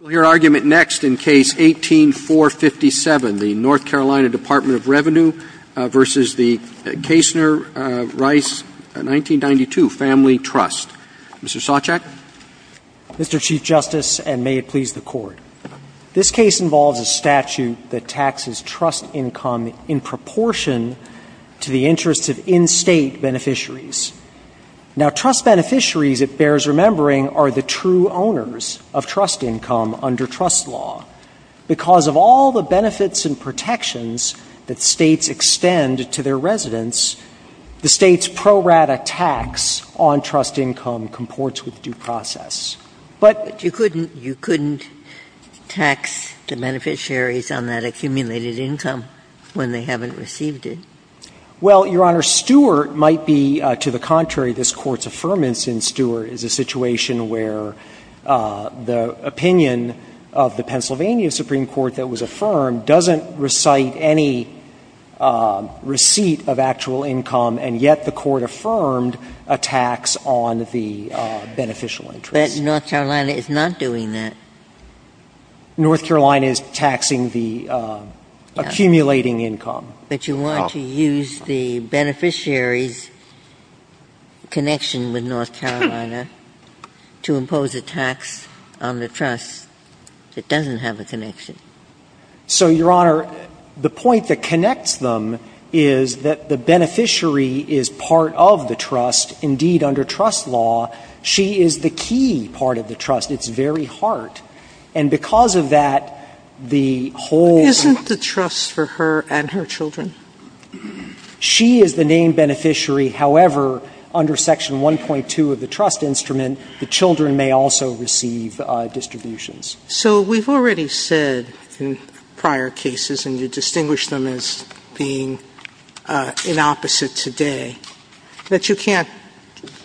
We'll hear argument next in Case 18-457, the North Carolina Dept. of Revenue v. the Kaestner Rice 1992 Family Trust. Mr. Sochek. Mr. Chief Justice, and may it please the Court. This case involves a statute that taxes trust income in proportion to the interests of in-state beneficiaries. Now, trust beneficiaries, it bears remembering, are the true owners of trust income under trust law. Because of all the benefits and protections that States extend to their residents, the States' pro rata tax on trust income comports with due process. But you couldn't tax the beneficiaries on that accumulated income when they haven't received it. Well, Your Honor, Stewart might be to the contrary. This Court's affirmance in Stewart is a situation where the opinion of the Pennsylvania Supreme Court that was affirmed doesn't recite any receipt of actual income, and yet the Court affirmed a tax on the beneficial interest. But North Carolina is not doing that. North Carolina is taxing the accumulating income. But you want to use the beneficiary's connection with North Carolina to impose a tax on the trust that doesn't have a connection. So, Your Honor, the point that connects them is that the beneficiary is part of the trust, indeed under trust law. She is the key part of the trust. It's very hard. And because of that, the whole of the trust. And so, Your Honor, the question is, does the beneficiary have a tax for her and her children? She is the named beneficiary. However, under section 1.2 of the trust instrument, the children may also receive distributions. So we've already said in prior cases, and you distinguish them as being in opposite today, that you can't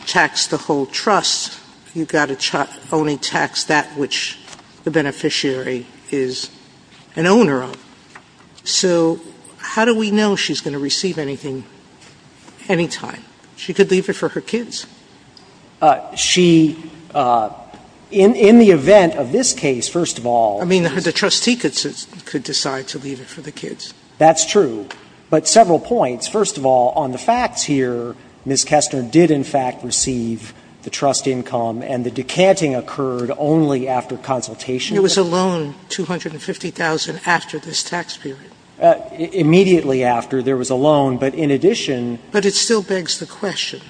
tax the whole trust. You've got to only tax that which the beneficiary is an owner of. So how do we know she's going to receive anything anytime? She could leave it for her kids. She, in the event of this case, first of all. I mean, the trustee could decide to leave it for the kids. That's true. But several points. First of all, on the facts here, Ms. Kestner did in fact receive the trust income and the decanting occurred only after consultation. It was a loan, $250,000 after this tax period. Immediately after, there was a loan. But in addition. But it still begs the question,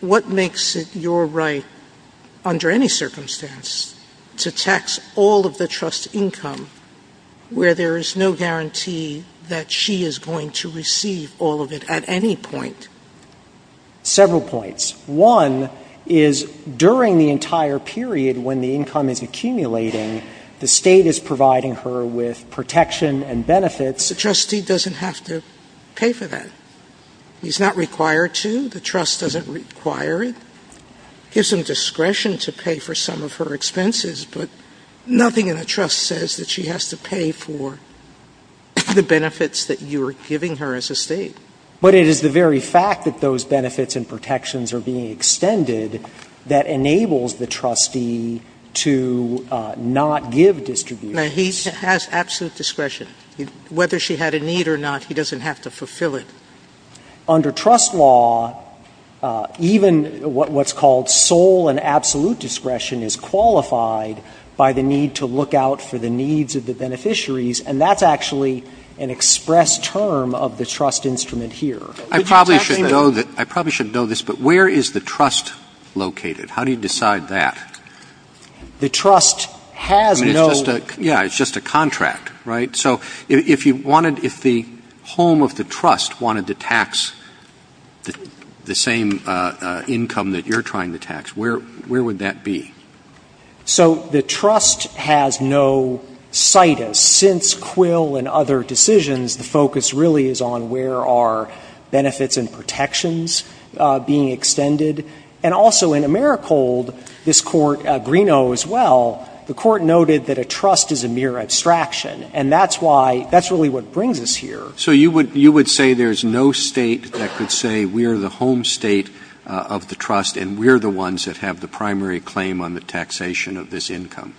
what makes it your right under any circumstance to tax all of the trust income where there is no guarantee that she is going to receive all of it at any point? Several points. One is during the entire period when the income is accumulating, the State is providing her with protection and benefits. The trustee doesn't have to pay for that. He's not required to. The trust doesn't require it. Sotomayor gives him discretion to pay for some of her expenses, but nothing in the trust says that she has to pay for the benefits that you are giving her as a State. But it is the very fact that those benefits and protections are being extended that enables the trustee to not give distribution. No, he has absolute discretion. Whether she had a need or not, he doesn't have to fulfill it. Under trust law, even what's called sole and absolute discretion is qualified by the need to look out for the needs of the beneficiaries. And that's actually an express term of the trust instrument here. Roberts. I probably should know this, but where is the trust located? How do you decide that? The trust has no. I mean, it's just a contract, right? So if you wanted, if the home of the trust wanted to tax the same income that you're trying to tax, where would that be? So the trust has no situs. Since Quill and other decisions, the focus really is on where are benefits and protections being extended. And also in Americold, this Court, Greeno as well, the Court noted that a trust is a mere abstraction. And that's why, that's really what brings us here. So you would say there's no State that could say we're the home State of the trust and we're the ones that have the primary claim on the taxation of this income?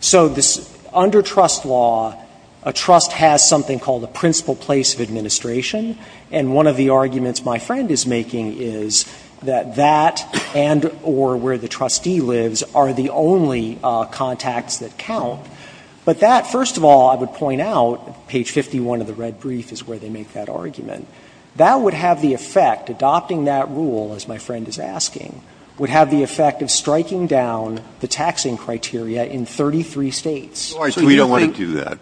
So under trust law, a trust has something called a principal place of administration. And one of the arguments my friend is making is that that and or where the trustee lives are the only contacts that count. But that, first of all, I would point out, page 51 of the red brief is where they make that argument. That would have the effect, adopting that rule, as my friend is asking, would have the effect of striking down the taxing criteria in 33 States. Breyer. We don't want to do that.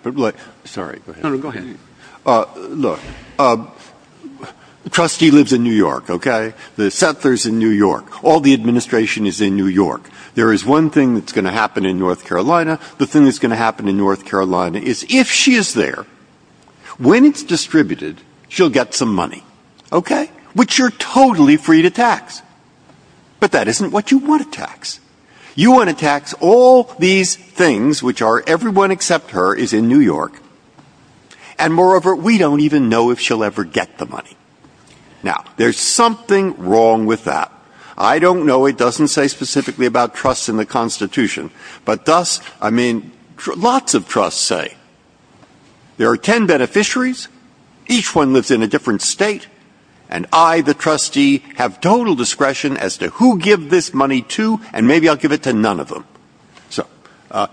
Sorry, go ahead. No, no, go ahead. Look, the trustee lives in New York, okay? The settler is in New York. All the administration is in New York. There is one thing that's going to happen in North Carolina. The thing that's going to happen in North Carolina is if she is there, when it's distributed, she'll get some money, okay? Which you're totally free to tax. But that isn't what you want to tax. You want to tax all these things which are everyone except her is in New York. And moreover, we don't even know if she'll ever get the money. Now, there's something wrong with that. I don't know. It doesn't say specifically about trust in the Constitution. But thus, I mean, lots of trusts say there are ten beneficiaries, each one lives in a different State, and I, the trustee, have total discretion as to who give this money to, and maybe I'll give it to none of them. So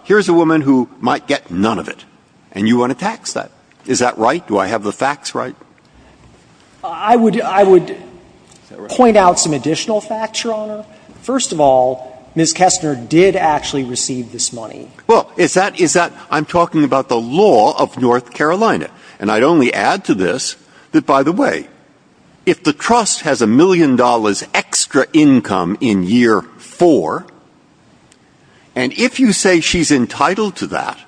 here's a woman who might get none of it, and you want to tax that. Is that right? Do I have the facts right? I would point out some additional facts, Your Honor. First of all, Ms. Kestner did actually receive this money. Well, is that, is that, I'm talking about the law of North Carolina. And I'd only add to this that, by the way, if the trust has a million dollars extra income in year four, and if you say she's entitled to that,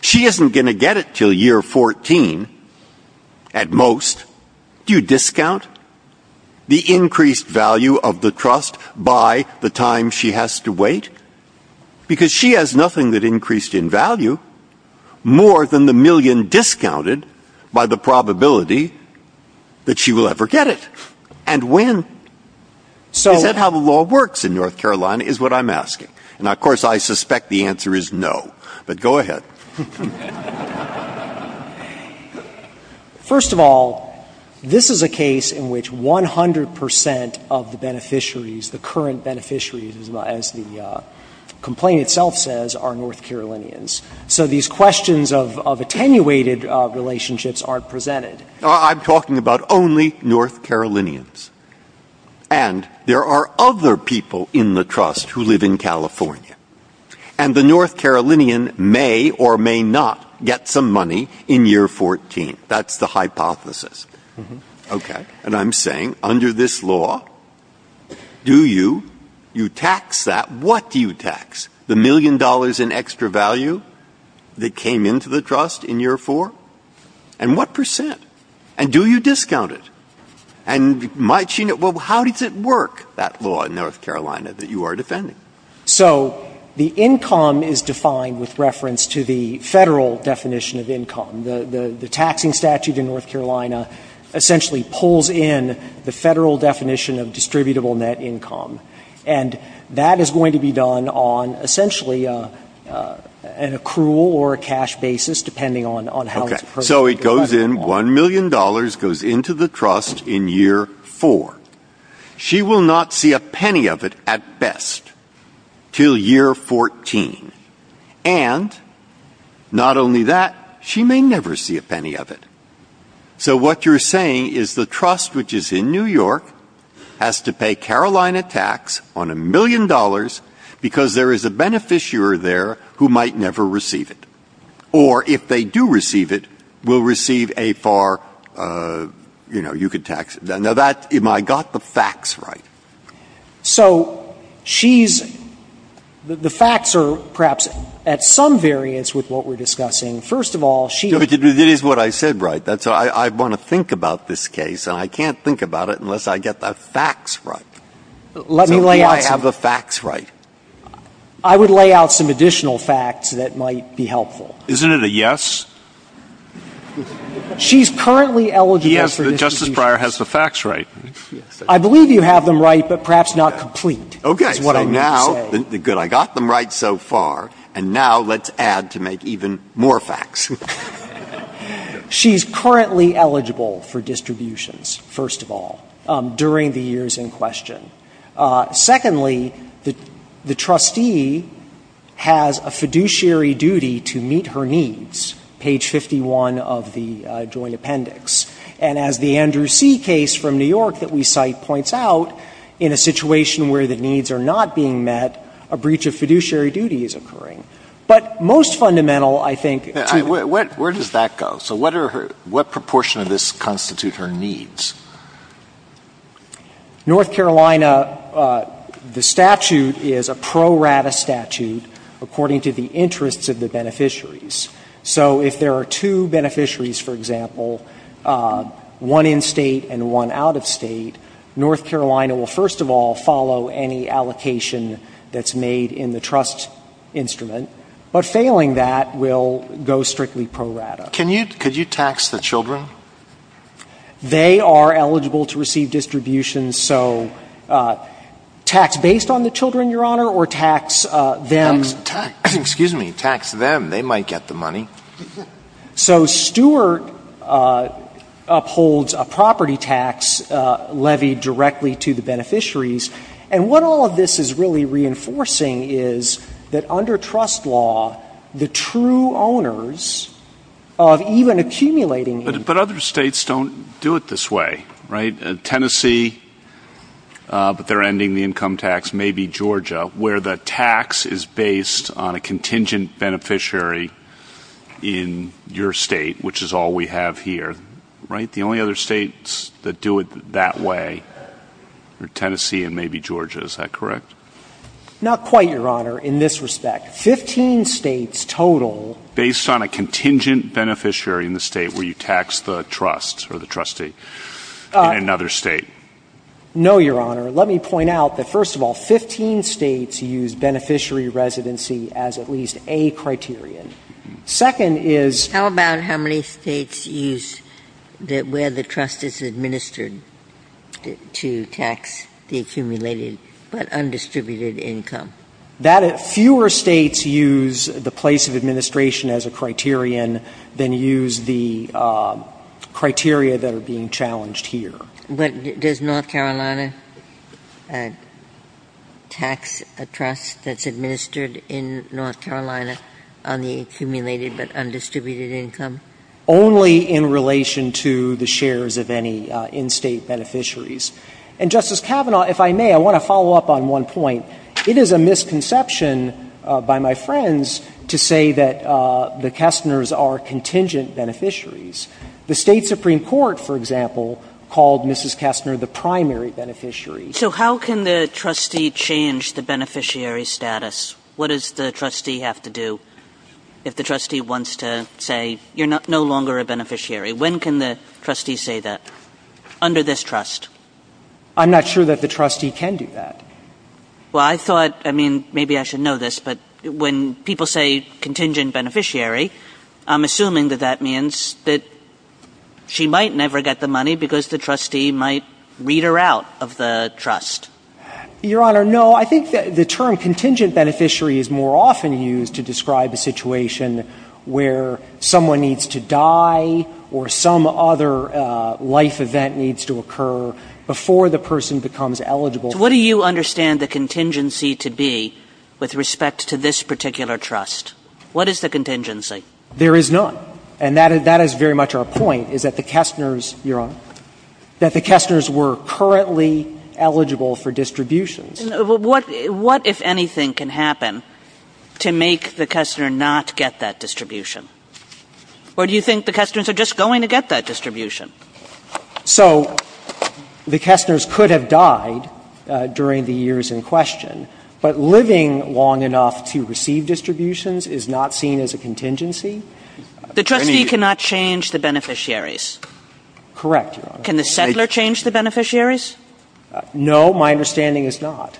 she isn't going to get it until year 14 at most, do you discount the increased value of the trust by the time she has to wait? Because she has nothing that increased in value more than the million discounted by the probability that she will ever get it. And when? Is that how the law works in North Carolina is what I'm asking. And, of course, I suspect the answer is no. But go ahead. First of all, this is a case in which 100 percent of the beneficiaries, the current beneficiaries, as the complaint itself says, are North Carolinians. So these questions of attenuated relationships aren't presented. I'm talking about only North Carolinians. And there are other people in the trust who live in California. And the North Carolinian may or may not get some money in year 14. That's the hypothesis. Okay. And I'm saying, under this law, do you tax that? What do you tax? The million dollars in extra value that came into the trust in year four? And what percent? And do you discount it? And how does it work, that law in North Carolina that you are defending? So the income is defined with reference to the Federal definition of income. The taxing statute in North Carolina essentially pulls in the Federal definition of distributable net income. And that is going to be done on essentially an accrual or a cash basis, depending on how it's presented. Okay. So it goes in, $1 million goes into the trust in year four. She will not see a penny of it at best until year 14. And not only that, she may never see a penny of it. So what you're saying is the trust, which is in New York, has to pay Carolina tax on $1 million because there is a beneficiary there who might never receive it. Or if they do receive it, will receive a far, you know, you could tax it. Now, that, am I got the facts right? So she's, the facts are perhaps at some variance with what we're discussing. First of all, she. That is what I said right. I want to think about this case. And I can't think about it unless I get the facts right. So do I have the facts right? I would lay out some additional facts that might be helpful. Isn't it a yes? She's currently eligible for this. Justice Breyer has the facts right. I believe you have them right, but perhaps not complete. Okay. That's what I'm going to say. Good. I got them right so far. And now let's add to make even more facts. She's currently eligible for distributions, first of all, during the years in question. Secondly, the trustee has a fiduciary duty to meet her needs, page 51 of the joint appendix. And as the Andrew C. case from New York that we cite points out, in a situation where the needs are not being met, a breach of fiduciary duty is occurring. But most fundamental, I think, to her. Where does that go? So what are her, what proportion of this constitute her needs? North Carolina, the statute is a pro rata statute according to the interests of the beneficiaries. So if there are two beneficiaries, for example, one in-state and one out-of-state, North Carolina will, first of all, follow any allocation that's made in the trust instrument. But failing that will go strictly pro rata. Can you, could you tax the children? They are eligible to receive distributions. So tax based on the children, Your Honor, or tax them. Excuse me. Tax them. They might get the money. So Stewart upholds a property tax levy directly to the beneficiaries. And what all of this is really reinforcing is that under trust law, the true owners of even accumulating income. But other states don't do it this way, right? Tennessee, but they're ending the income tax, maybe Georgia, where the tax is based on a contingent beneficiary in your state, which is all we have here, right? The only other states that do it that way are Tennessee and maybe Georgia. Is that correct? Not quite, Your Honor, in this respect. Fifteen states total. Based on a contingent beneficiary in the state where you tax the trust or the trustee in another state. No, Your Honor. Let me point out that, first of all, 15 states use beneficiary residency as at least a criterion. Second is. How about how many states use where the trust is administered to tax the accumulated but undistributed income? Fewer states use the place of administration as a criterion than use the criteria that are being challenged here. But does North Carolina tax a trust that's administered in North Carolina on the accumulated but undistributed income? Only in relation to the shares of any in-state beneficiaries. And, Justice Kavanaugh, if I may, I want to follow up on one point. It is a misconception by my friends to say that the Kessners are contingent beneficiaries. The State Supreme Court, for example, called Mrs. Kessner the primary beneficiary. Kagan. So how can the trustee change the beneficiary status? What does the trustee have to do if the trustee wants to say, you're no longer a beneficiary? When can the trustee say that? Under this trust. I'm not sure that the trustee can do that. Well, I thought, I mean, maybe I should know this, but when people say contingent beneficiary, I'm assuming that that means that she might never get the money because the trustee might read her out of the trust. Your Honor, no. I think the term contingent beneficiary is more often used to describe a situation where someone needs to die or some other life event needs to occur before the person becomes eligible. So what do you understand the contingency to be with respect to this particular trust? What is the contingency? There is none. And that is very much our point, is that the Kessners, Your Honor, that the Kessners were currently eligible for distributions. What, if anything, can happen to make the Kessner not get that distribution? Or do you think the Kessners are just going to get that distribution? So the Kessners could have died during the years in question, but living long enough to receive distributions is not seen as a contingency? The trustee cannot change the beneficiaries. Correct, Your Honor. Can the settler change the beneficiaries? No, my understanding is not.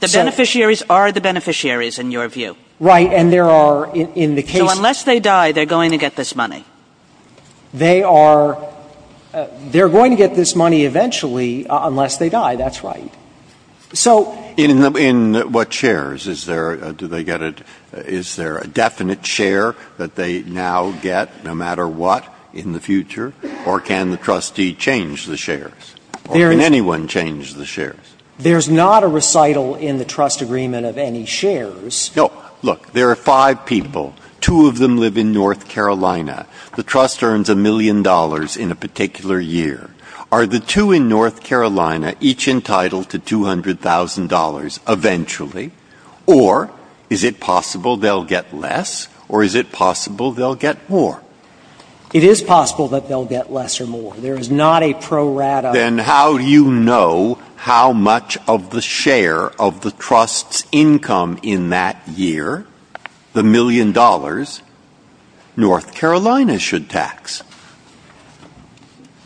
The beneficiaries are the beneficiaries, in your view. Right. And there are in the case. So unless they die, they are going to get this money. They are going to get this money eventually unless they die. That's right. In what shares? Is there a definite share that they now get, no matter what, in the future? Or can the trustee change the shares? Or can anyone change the shares? There is not a recital in the trust agreement of any shares. No. Look, there are five people. Two of them live in North Carolina. The trust earns a million dollars in a particular year. Are the two in North Carolina each entitled to $200,000 eventually? Or is it possible they will get less? Or is it possible they will get more? It is possible that they will get less or more. There is not a pro rata. Then how do you know how much of the share of the trust's income in that year, the million dollars, North Carolina should tax?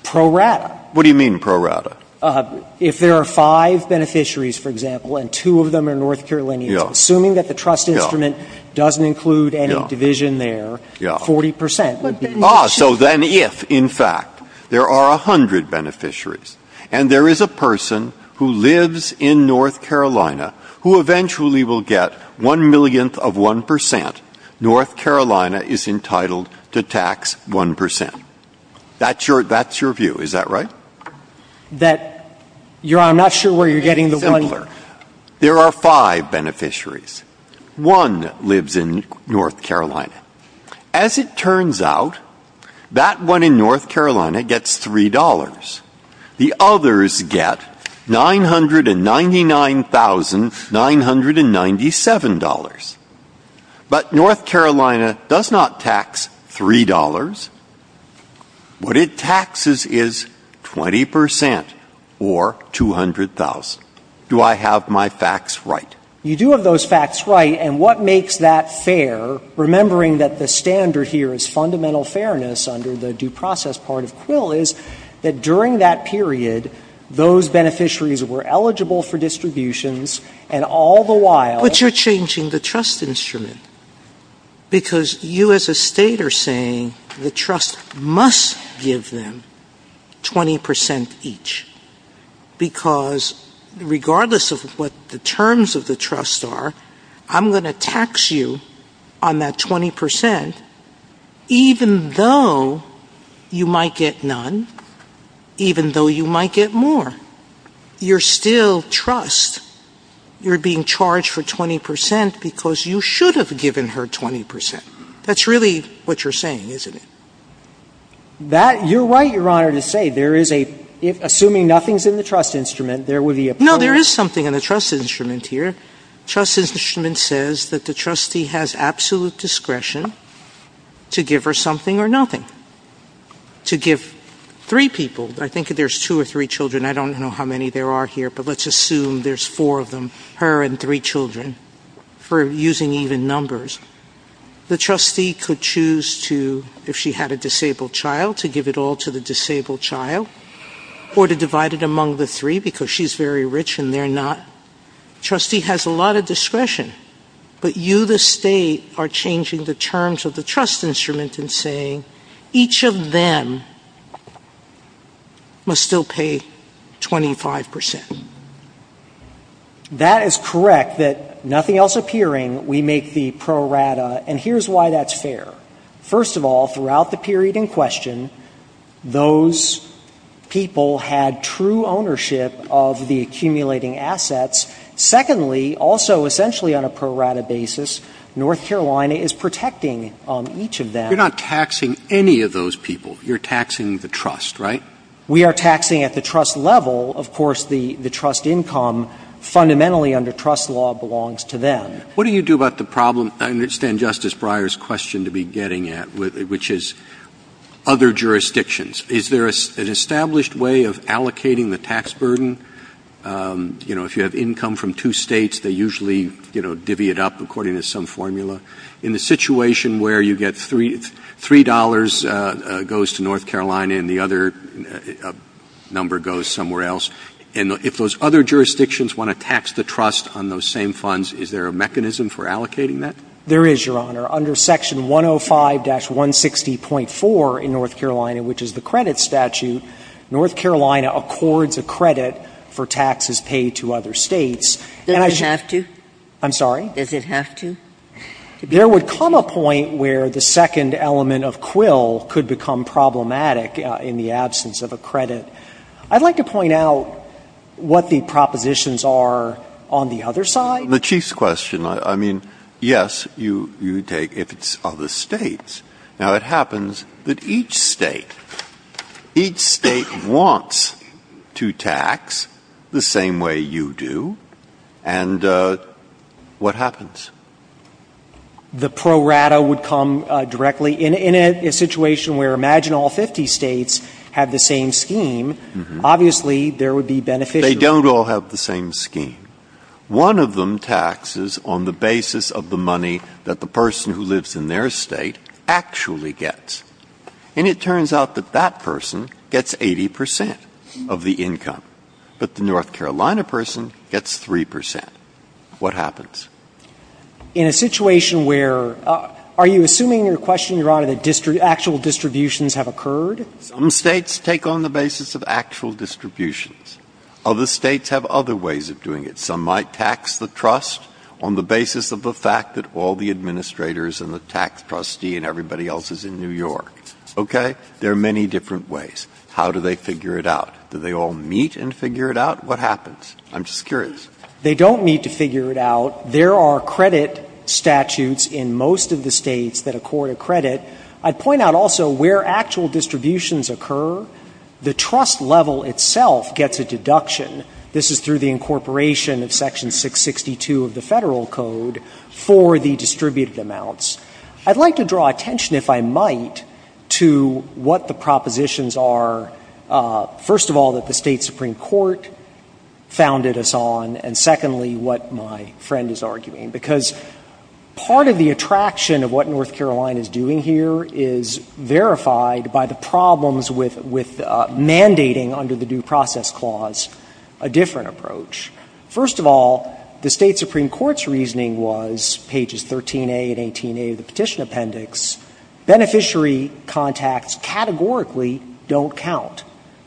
Pro rata. What do you mean pro rata? If there are five beneficiaries, for example, and two of them are North Carolinians, assuming that the trust instrument doesn't include any division there, 40 percent would be the share. Ah, so then if, in fact, there are 100 beneficiaries and there is a person who lives in North Carolina who eventually will get one millionth of 1 percent, North Carolina is entitled to tax 1 percent. That's your view. Is that right? That, Your Honor, I'm not sure where you're getting the one. It's simpler. There are five beneficiaries. One lives in North Carolina. As it turns out, that one in North Carolina gets $3. The others get $999,997. But North Carolina does not tax $3. What it taxes is 20 percent or $200,000. Do I have my facts right? You do have those facts right. And what makes that fair, remembering that the standard here is fundamental fairness under the due process part of Quill, is that during that period, those beneficiaries were eligible for distributions, and all the while – But you're changing the trust instrument. Because you as a state are saying the trust must give them 20 percent each. Because regardless of what the terms of the trust are, I'm going to tax you on that 20 percent, even though you might get none, even though you might get more. You're still trust. You're being charged for 20 percent because you should have given her 20 percent. That's really what you're saying, isn't it? That – you're right, Your Honor, to say there is a – assuming nothing's in the trust instrument, there would be a – No, there is something in the trust instrument here. Trust instrument says that the trustee has absolute discretion to give her something or nothing. To give three people – I think there's two or three children. I don't know how many there are here, but let's assume there's four of them, her and three children, for using even numbers. The trustee could choose to – if she had a disabled child, to give it all to the disabled child, or to divide it among the three because she's very rich and they're not. Trustee has a lot of discretion, but you, the state, are changing the terms of the saying each of them must still pay 25 percent. That is correct, that nothing else appearing, we make the pro rata, and here's why that's fair. First of all, throughout the period in question, those people had true ownership of the accumulating assets. Secondly, also essentially on a pro rata basis, North Carolina is protecting each of them. You're not taxing any of those people. You're taxing the trust, right? We are taxing at the trust level. Of course, the trust income fundamentally under trust law belongs to them. What do you do about the problem? I understand Justice Breyer's question to be getting at, which is other jurisdictions. Is there an established way of allocating the tax burden? You know, if you have income from two States, they usually, you know, divvy it up according to some formula. In the situation where you get $3 goes to North Carolina and the other number goes somewhere else, and if those other jurisdictions want to tax the trust on those same funds, is there a mechanism for allocating that? There is, Your Honor. Under Section 105-160.4 in North Carolina, which is the credit statute, North Carolina accords a credit for taxes paid to other States. And I should have to. I'm sorry? Does it have to? There would come a point where the second element of Quill could become problematic in the absence of a credit. I'd like to point out what the propositions are on the other side. The Chief's question, I mean, yes, you take if it's other States. Now, it happens that each State, each State wants to tax the same way you do. And what happens? The pro rata would come directly. In a situation where, imagine all 50 States have the same scheme, obviously there would be beneficial. They don't all have the same scheme. One of them taxes on the basis of the money that the person who lives in their state actually gets. And it turns out that that person gets 80 percent of the income. But the North Carolina person gets 3 percent. What happens? In a situation where, are you assuming in your question, Your Honor, that actual distributions have occurred? Some States take on the basis of actual distributions. Other States have other ways of doing it. Some might tax the trust on the basis of the fact that all the administrators and the tax trustee and everybody else is in New York. Okay? There are many different ways. How do they figure it out? Do they all meet and figure it out? What happens? I'm just curious. They don't meet to figure it out. There are credit statutes in most of the States that accord a credit. I'd point out also where actual distributions occur, the trust level itself gets a deduction. This is through the incorporation of Section 662 of the Federal Code for the distributed amounts. I'd like to draw attention, if I might, to what the propositions are, first of all, that the State Supreme Court founded us on, and secondly, what my friend is arguing. Because part of the attraction of what North Carolina is doing here is verified by the problems with mandating under the Due Process Clause a different approach. First of all, the State Supreme Court's reasoning was, pages 13a and 18a of the Petition Appendix, beneficiary contacts categorically don't count.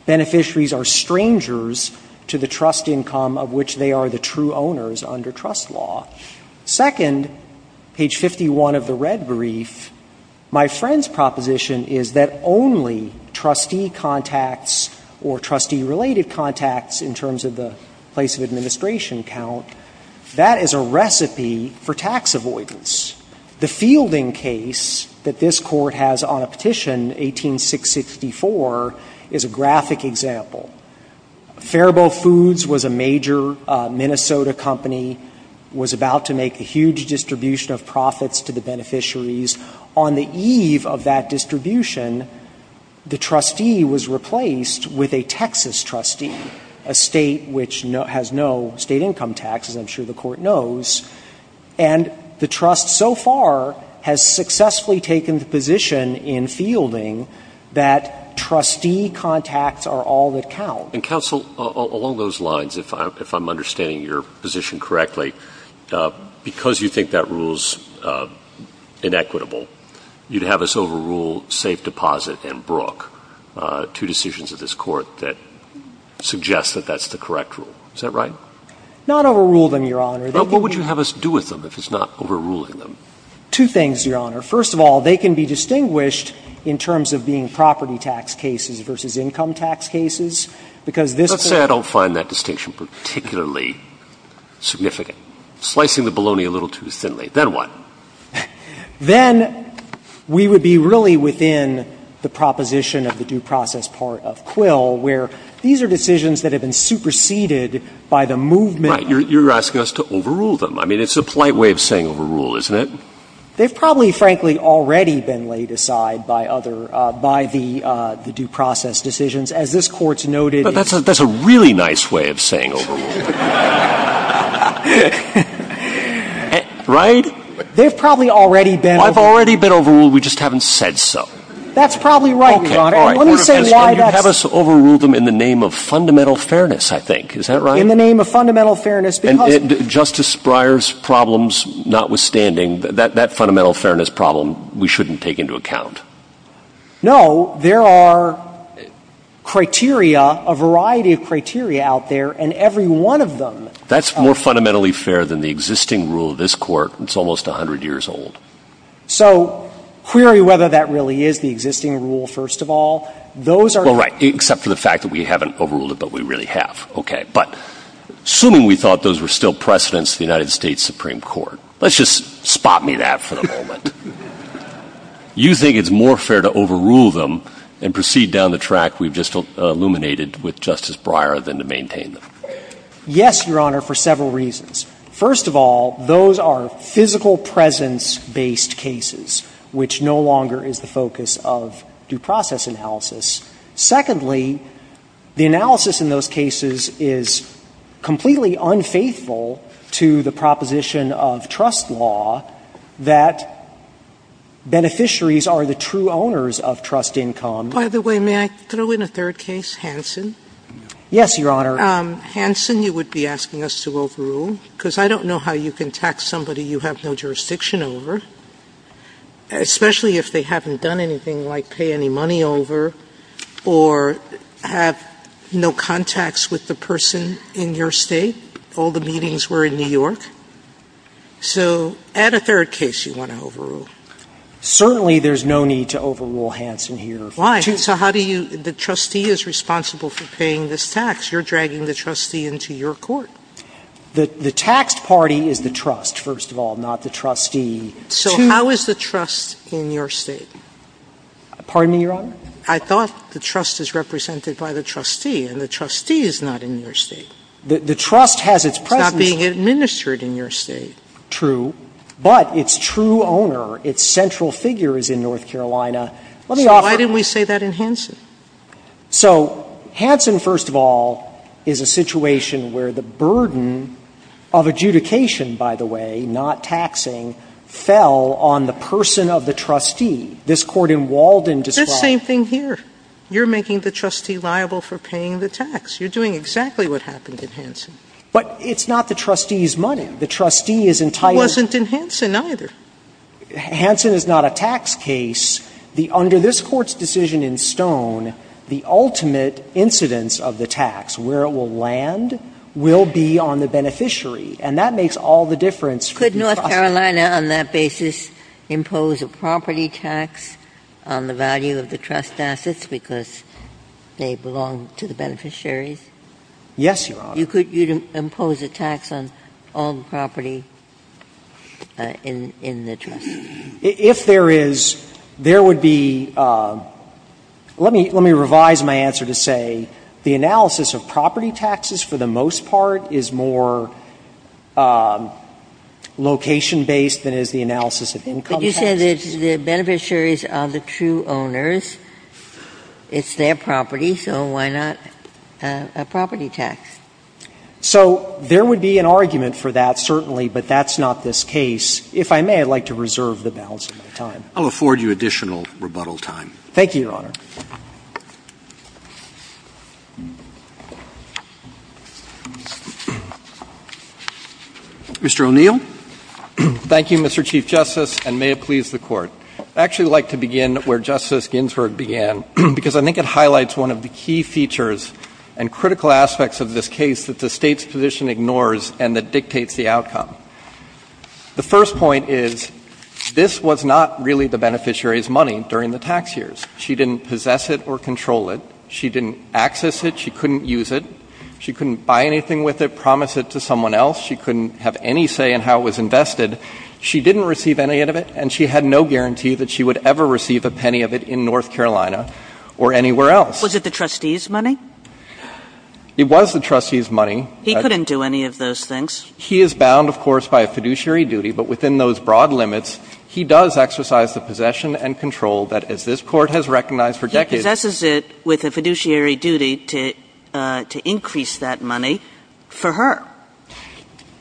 Beneficiaries are strangers to the trust income of which they are the true owners under trust law. Second, page 51 of the red brief, my friend's proposition is that only trustee contacts or trustee-related contacts in terms of the place of administration count, that is a recipe for tax avoidance. The fielding case that this Court has on a petition, 18664, is a graphic example. Faribault Foods was a major Minnesota company, was about to make a huge distribution of profits to the beneficiaries. On the eve of that distribution, the trustee was replaced with a Texas trustee, a State which has no State income tax, as I'm sure the Court knows. And the trust so far has successfully taken the position in fielding that trustee contacts are all that count. And counsel, along those lines, if I'm understanding your position correctly, because you think that rule is inequitable, you'd have us overrule Safe Deposit and Brook, two decisions of this Court that suggest that that's the correct rule. Is that right? Not overrule them, Your Honor. But what would you have us do with them if it's not overruling them? Two things, Your Honor. First of all, they can be distinguished in terms of being property tax cases versus income tax cases. Because this Court Let's say I don't find that distinction particularly significant. Slicing the bologna a little too thinly. Then what? Then we would be really within the proposition of the due process part of Quill, where these are decisions that have been superseded by the movement. Right. You're asking us to overrule them. I mean, it's a polite way of saying overrule, isn't it? They've probably, frankly, already been laid aside by other by the due process decisions. As this Court's noted is That's a really nice way of saying overrule. Right? They've probably already been overruled. I've already been overruled. We just haven't said so. That's probably right, Your Honor. Let me say why that's You'd have us overrule them in the name of fundamental fairness, I think. Is that right? In the name of fundamental fairness. And Justice Breyer's problems notwithstanding, that fundamental fairness problem we shouldn't take into account. No. There are criteria, a variety of criteria out there, and every one of them That's more fundamentally fair than the existing rule of this Court. It's almost 100 years old. So query whether that really is the existing rule, first of all. Those are Well, right. Except for the fact that we haven't overruled it, but we really have. Okay. But assuming we thought those were still precedents of the United States Supreme Court, let's just spot me that for the moment. You think it's more fair to overrule them and proceed down the track we've just illuminated with Justice Breyer than to maintain them? Yes, Your Honor, for several reasons. First of all, those are physical presence-based cases, which no longer is the focus of due process analysis. Secondly, the analysis in those cases is completely unfaithful to the proposition of trust law, that beneficiaries are the true owners of trust income. By the way, may I throw in a third case, Hansen? Yes, Your Honor. Hansen, you would be asking us to overrule, because I don't know how you can tax somebody you have no jurisdiction over, especially if they haven't done anything like pay any money over or have no contacts with the person in your State, all the meetings were in New York. So add a third case you want to overrule. Certainly there's no need to overrule Hansen here. Why? So how do you – the trustee is responsible for paying this tax. You're dragging the trustee into your court. The tax party is the trust, first of all, not the trustee. So how is the trust in your State? Pardon me, Your Honor? I thought the trust is represented by the trustee, and the trustee is not in your State. The trust has its presence. It's not being administered in your State. True. But its true owner, its central figure is in North Carolina. Let me offer. So why didn't we say that in Hansen? So Hansen, first of all, is a situation where the burden of adjudication, by the way, not taxing, fell on the person of the trustee. This Court in Walden describes – It's the same thing here. You're making the trustee liable for paying the tax. You're doing exactly what happened in Hansen. But it's not the trustee's money. The trustee is entirely – It wasn't in Hansen either. Hansen is not a tax case. Under this Court's decision in Stone, the ultimate incidence of the tax, where it will land, will be on the beneficiary. And that makes all the difference. Could North Carolina on that basis impose a property tax on the value of the trust assets because they belong to the beneficiaries? Yes, Your Honor. You could impose a tax on all the property in the trust? If there is, there would be – let me revise my answer to say the analysis of property taxes for the most part is more location-based than is the analysis of income taxes. But you said that the beneficiaries are the true owners. It's their property, so why not a property tax? So there would be an argument for that, certainly, but that's not this case. If I may, I'd like to reserve the balance of my time. Thank you, Your Honor. Mr. O'Neill. Thank you, Mr. Chief Justice, and may it please the Court. I'd actually like to begin where Justice Ginsburg began because I think it highlights one of the key features and critical aspects of this case that the State's position ignores and that dictates the outcome. The first point is this was not really the beneficiary's money during the tax years. She didn't possess it or control it. She didn't access it. She couldn't use it. She couldn't buy anything with it, promise it to someone else. She couldn't have any say in how it was invested. She didn't receive any of it, and she had no guarantee that she would ever receive a penny of it in North Carolina or anywhere else. Was it the trustee's money? It was the trustee's money. He couldn't do any of those things. He is bound, of course, by a fiduciary duty, but within those broad limits, he does exercise the possession and control that, as this Court has recognized for decades He possesses it with a fiduciary duty to increase that money for her.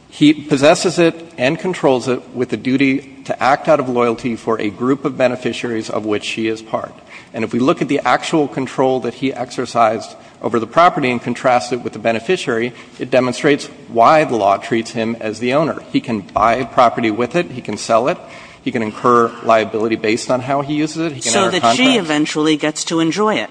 He possesses it and controls it with a duty to act out of loyalty for a group of beneficiaries of which she is part. And if we look at the actual control that he exercised over the property and contrast it with the beneficiary, it demonstrates why the law treats him as the owner. He can buy a property with it. He can sell it. He can incur liability based on how he uses it. He can enter a contract. So that she eventually gets to enjoy it.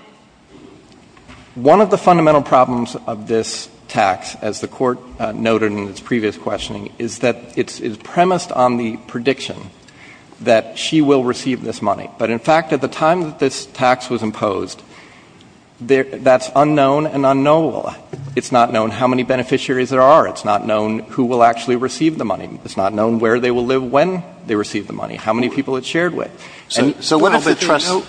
One of the fundamental problems of this tax, as the Court noted in its previous questioning, is that it's premised on the prediction that she will receive this money. But in fact, at the time that this tax was imposed, that's unknown and unknowable. It's not known how many beneficiaries there are. It's not known who will actually receive the money. It's not known where they will live when they receive the money. How many people it's shared with. And the public trust. Alito,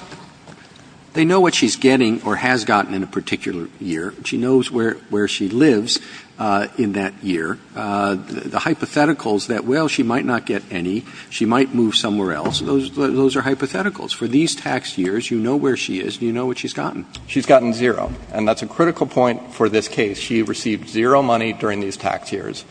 they know what she's getting or has gotten in a particular year. She knows where she lives in that year. The hypotheticals that, well, she might not get any, she might move somewhere else, those are hypotheticals. For these tax years, you know where she is and you know what she's gotten. She's gotten zero. And that's a critical point for this case. She received zero money during these tax years.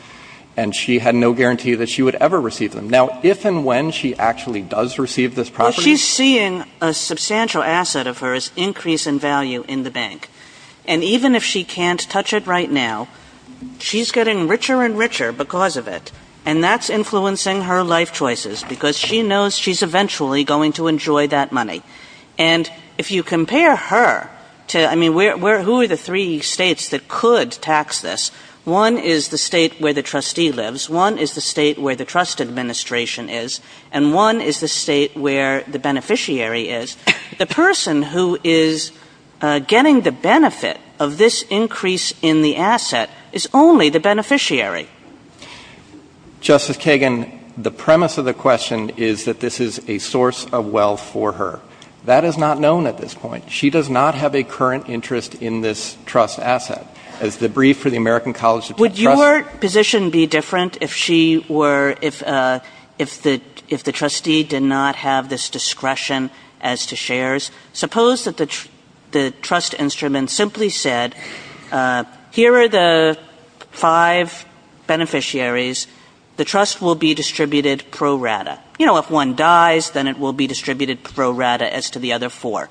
And she had no guarantee that she would ever receive them. Now, if and when she actually does receive this property. Well, she's seeing a substantial asset of hers increase in value in the bank. And even if she can't touch it right now, she's getting richer and richer because of it. And that's influencing her life choices because she knows she's eventually going to enjoy that money. And if you compare her to, I mean, who are the three States that could tax this? One is the State where the trustee lives. One is the State where the trust administration is. And one is the State where the beneficiary is. The person who is getting the benefit of this increase in the asset is only the beneficiary. Justice Kagan, the premise of the question is that this is a source of wealth for her. That is not known at this point. She does not have a current interest in this trust asset. As the brief for the American College of Trust. Would your position be different if she were, if the trustee did not have this discretion as to shares? Suppose that the trust instrument simply said, here are the five beneficiaries. The trust will be distributed pro rata. You know, if one dies, then it will be distributed pro rata as to the other four.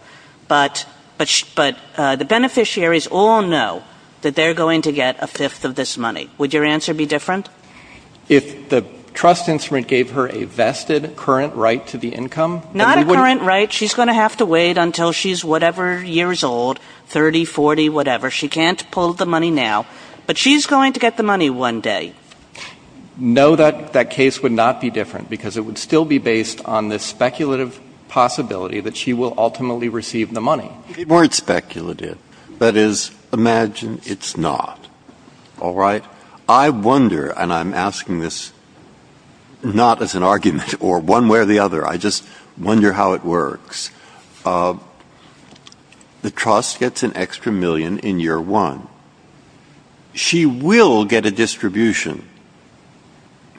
But the beneficiaries all know that they're going to get a fifth of this money. Would your answer be different? If the trust instrument gave her a vested current right to the income. Not a current right. She's going to have to wait until she's whatever years old, 30, 40, whatever. She can't pull the money now. But she's going to get the money one day. No, that case would not be different. Because it would still be based on this speculative possibility that she will ultimately receive the money. If it weren't speculative. That is, imagine it's not. All right? I wonder, and I'm asking this not as an argument or one way or the other. I just wonder how it works. The trust gets an extra million in year one. She will get a distribution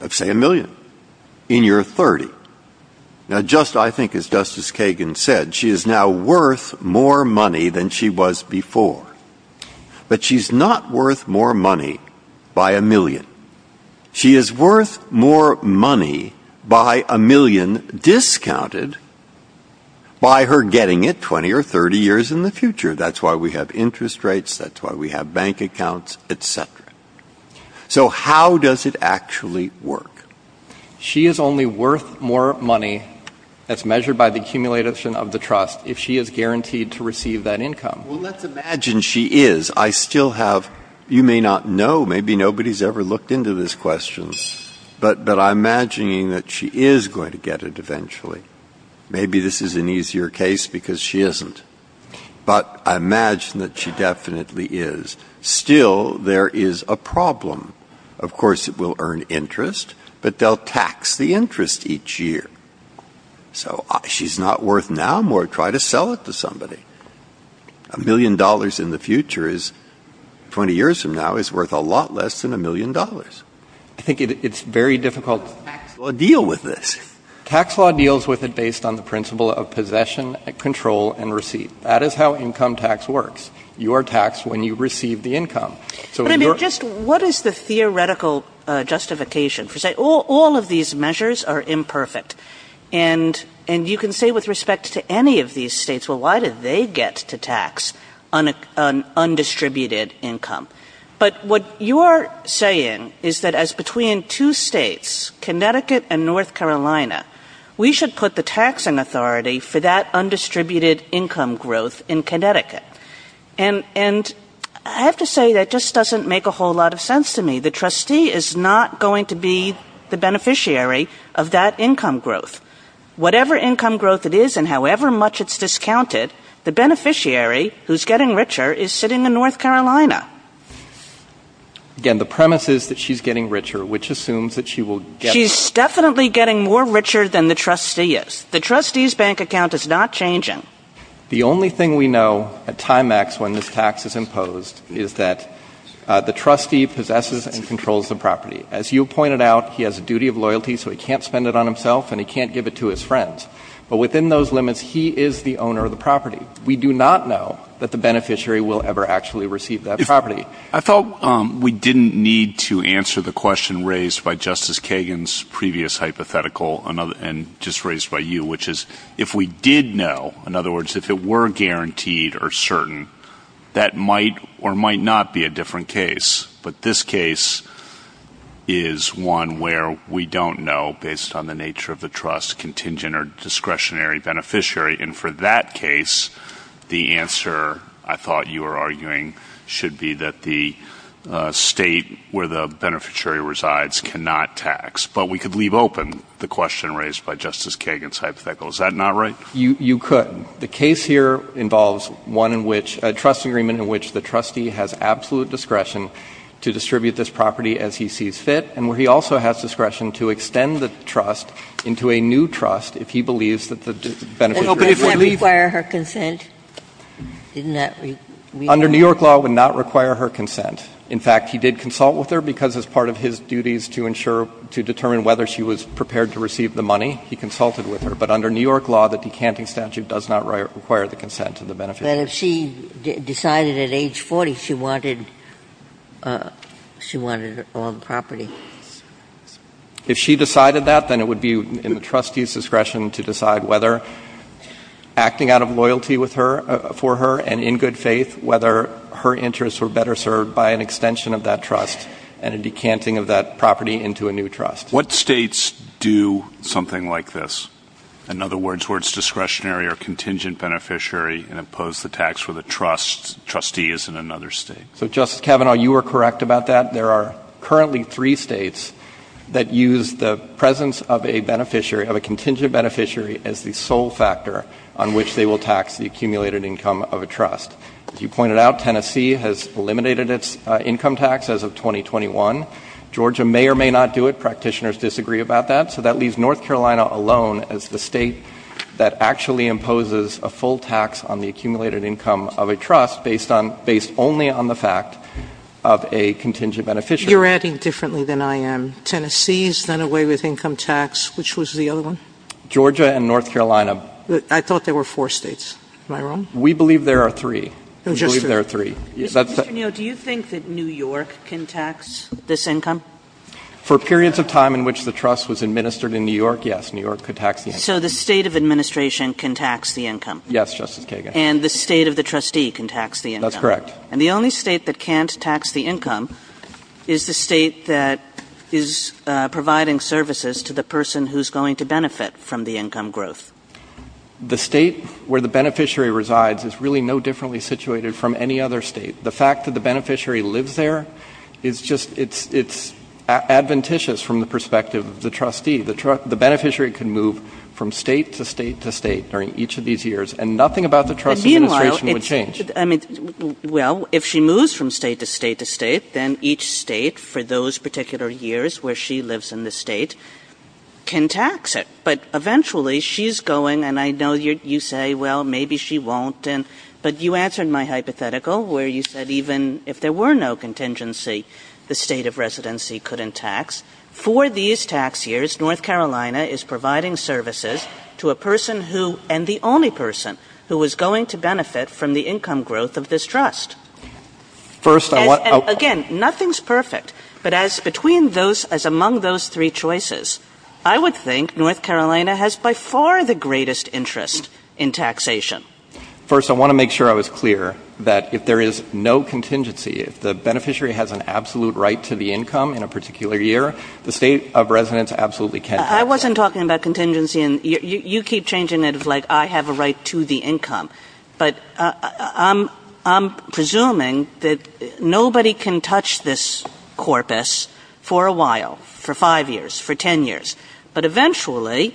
of, say, a million in year 30. Now, just I think as Justice Kagan said, she is now worth more money than she was before. But she's not worth more money by a million. She is worth more money by a million discounted by her getting it 20 or 30 years in the future. That's why we have interest rates. That's why we have bank accounts, et cetera. So how does it actually work? She is only worth more money as measured by the accumulation of the trust if she is guaranteed to receive that income. Well, let's imagine she is. I still have you may not know, maybe nobody's ever looked into this question, but I'm imagining that she is going to get it eventually. Maybe this is an easier case because she isn't. But I imagine that she definitely is. Still, there is a problem. Of course, it will earn interest, but they'll tax the interest each year. So she's not worth now more. Try to sell it to somebody. A million dollars in the future is 20 years from now is worth a lot less than a million dollars. I think it's very difficult to deal with this. Tax law deals with it based on the principle of possession, control, and receipt. That is how income tax works. You are taxed when you receive the income. What is the theoretical justification? All of these measures are imperfect. And you can say with respect to any of these states, well, why did they get to tax undistributed income? But what you are saying is that as between two states, Connecticut and North Carolina, we should put the taxing authority for that undistributed income growth in Connecticut. And I have to say that just doesn't make a whole lot of sense to me. The trustee is not going to be the beneficiary of that income growth. Whatever income growth it is and however much it's discounted, the beneficiary who's getting richer is sitting in North Carolina. Again, the premise is that she's getting richer, which assumes that she will get She's definitely getting more richer than the trustee is. The trustee's bank account is not changing. The only thing we know at time X when this tax is imposed is that the trustee possesses and controls the property. As you pointed out, he has a duty of loyalty, so he can't spend it on himself and he can't give it to his friends. But within those limits, he is the owner of the property. We do not know that the beneficiary will ever actually receive that property. I thought we didn't need to answer the question raised by Justice Kagan's previous hypothetical and just raised by you, which is if we did know In other words, if it were guaranteed or certain, that might or might not be a different case. But this case is one where we don't know, based on the nature of the trust, contingent or discretionary beneficiary. And for that case, the answer I thought you were arguing should be that the state where the beneficiary resides cannot tax. But we could leave open the question raised by Justice Kagan's hypothetical. Is that not right? You could. The case here involves one in which — a trust agreement in which the trustee has absolute discretion to distribute this property as he sees fit and where he also has discretion to extend the trust into a new trust if he believes that the beneficiary would leave. But does that require her consent? Under New York law, it would not require her consent. In fact, he did consult with her because as part of his duties to ensure — to determine whether she was prepared to receive the money, he consulted with her. But under New York law, the decanting statute does not require the consent of the beneficiary. But if she decided at age 40 she wanted — she wanted all the property? If she decided that, then it would be in the trustee's discretion to decide whether — acting out of loyalty with her — for her and in good faith, whether her interests were better served by an extension of that trust and a decanting of that property into a new trust. What states do something like this? In other words, where it's discretionary or contingent beneficiary and impose the tax with a trust, trustee is in another state. So, Justice Kavanaugh, you are correct about that. There are currently three states that use the presence of a beneficiary — of a contingent beneficiary as the sole factor on which they will tax the accumulated income of a trust. As you pointed out, Tennessee has eliminated its income tax as of 2021. Georgia may or may not do it. Practitioners disagree about that. So that leaves North Carolina alone as the state that actually imposes a full tax on the accumulated income of a trust based on — based only on the fact of a contingent beneficiary. You're adding differently than I am. Tennessee has done away with income tax. Which was the other one? Georgia and North Carolina. I thought there were four states. Am I wrong? We believe there are three. We believe there are three. Do you think that New York can tax this income? For periods of time in which the trust was administered in New York, yes, New York could tax the income. So the state of administration can tax the income? Yes, Justice Kagan. And the state of the trustee can tax the income? That's correct. And the only state that can't tax the income is the state that is providing services to the person who's going to benefit from the income growth? The state where the beneficiary resides is really no differently situated from any other state. The fact that the beneficiary lives there is just — it's adventitious from the perspective of the trustee. The beneficiary can move from state to state to state during each of these years, and nothing about the trust administration would change. And meanwhile, I mean, well, if she moves from state to state to state, then each state for those particular years where she lives in the state can tax it. But eventually, she's going — and I know you say, well, maybe she won't. But you answered my hypothetical where you said even if there were no contingency, the state of residency couldn't tax. For these tax years, North Carolina is providing services to a person who — and the only person who is going to benefit from the income growth of this trust. First, I want — Again, nothing's perfect. But as between those — as among those three choices, I would think North Carolina has by far the greatest interest in taxation. First, I want to make sure I was clear that if there is no contingency, if the beneficiary has an absolute right to the income in a particular year, the state of residence absolutely can't tax it. I wasn't talking about contingency. And you keep changing it of like I have a right to the income. But I'm presuming that nobody can touch this corpus for a while, for five years, for 10 years. But eventually,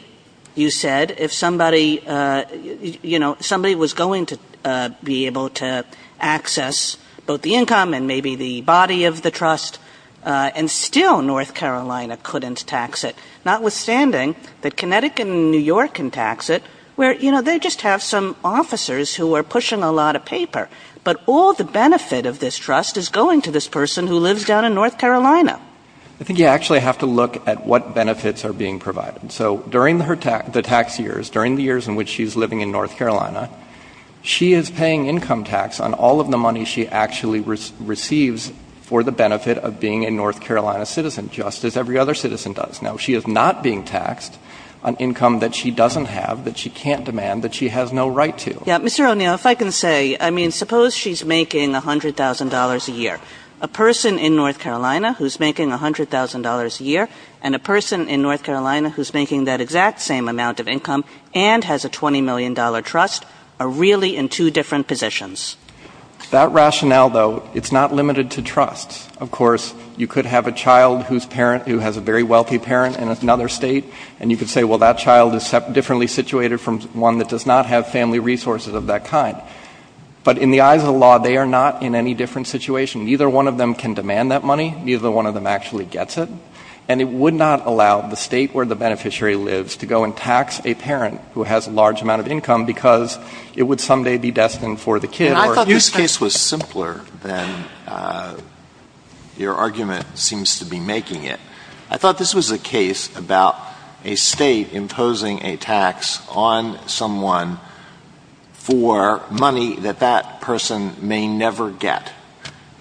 you said, if somebody — you know, somebody was going to be able to access both the income and maybe the body of the trust, and still North Carolina couldn't tax it, notwithstanding that Connecticut and New York can tax it where, you know, there are tax officers who are pushing a lot of paper. But all the benefit of this trust is going to this person who lives down in North Carolina. I think you actually have to look at what benefits are being provided. So during the tax years, during the years in which she's living in North Carolina, she is paying income tax on all of the money she actually receives for the benefit of being a North Carolina citizen, just as every other citizen does. Now, she is not being taxed on income that she doesn't have, that she can't demand, that she has no right to. Yeah. Mr. O'Neill, if I can say — I mean, suppose she's making $100,000 a year. A person in North Carolina who's making $100,000 a year and a person in North Carolina who's making that exact same amount of income and has a $20 million trust are really in two different positions. That rationale, though, it's not limited to trust. Of course, you could have a child whose parent — who has a very wealthy parent in another state, and you could say, well, that child is differently situated from one that does not have family resources of that kind. But in the eyes of the law, they are not in any different situation. Neither one of them can demand that money. Neither one of them actually gets it. And it would not allow the state where the beneficiary lives to go and tax a parent who has a large amount of income because it would someday be destined for the kid or — And I thought this case was simpler than your argument seems to be making it. I thought this was a case about a state imposing a tax on someone for money that that person may never get.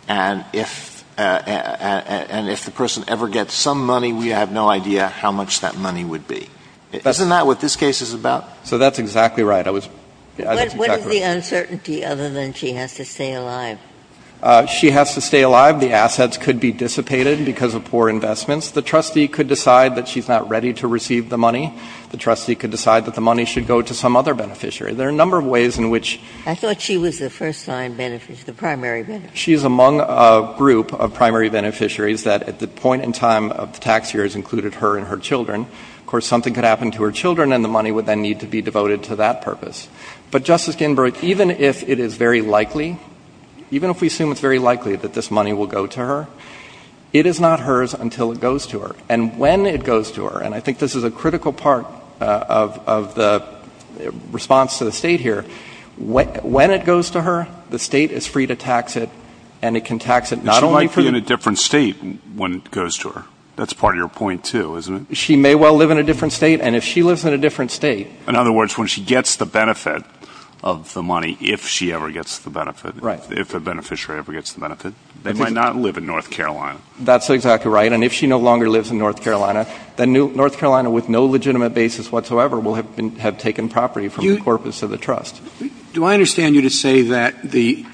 And if — and if the person ever gets some money, we have no idea how much that money would be. Isn't that what this case is about? So that's exactly right. I was — What is the uncertainty other than she has to stay alive? She has to stay alive. The assets could be dissipated because of poor investments. The trustee could decide that she's not ready to receive the money. The trustee could decide that the money should go to some other beneficiary. There are a number of ways in which — I thought she was the first-time beneficiary, the primary beneficiary. She is among a group of primary beneficiaries that at the point in time of the tax year has included her and her children. Of course, something could happen to her children, and the money would then need to be devoted to that purpose. But, Justice Ginsburg, even if it is very likely, even if we assume it's very likely that this money will go to her, it is not hers until it goes to her. And when it goes to her — and I think this is a critical part of the response to the State here — when it goes to her, the State is free to tax it, and it can tax it not only for — She might be in a different State when it goes to her. That's part of your point, too, isn't it? She may well live in a different State, and if she lives in a different State — In other words, when she gets the benefit of the money, if she ever gets the benefit — Right. If a beneficiary ever gets the benefit, they might not live in North Carolina. That's exactly right. And if she no longer lives in North Carolina, then North Carolina, with no legitimate basis whatsoever, will have taken property from the corpus of the trust. Do I understand you to say that the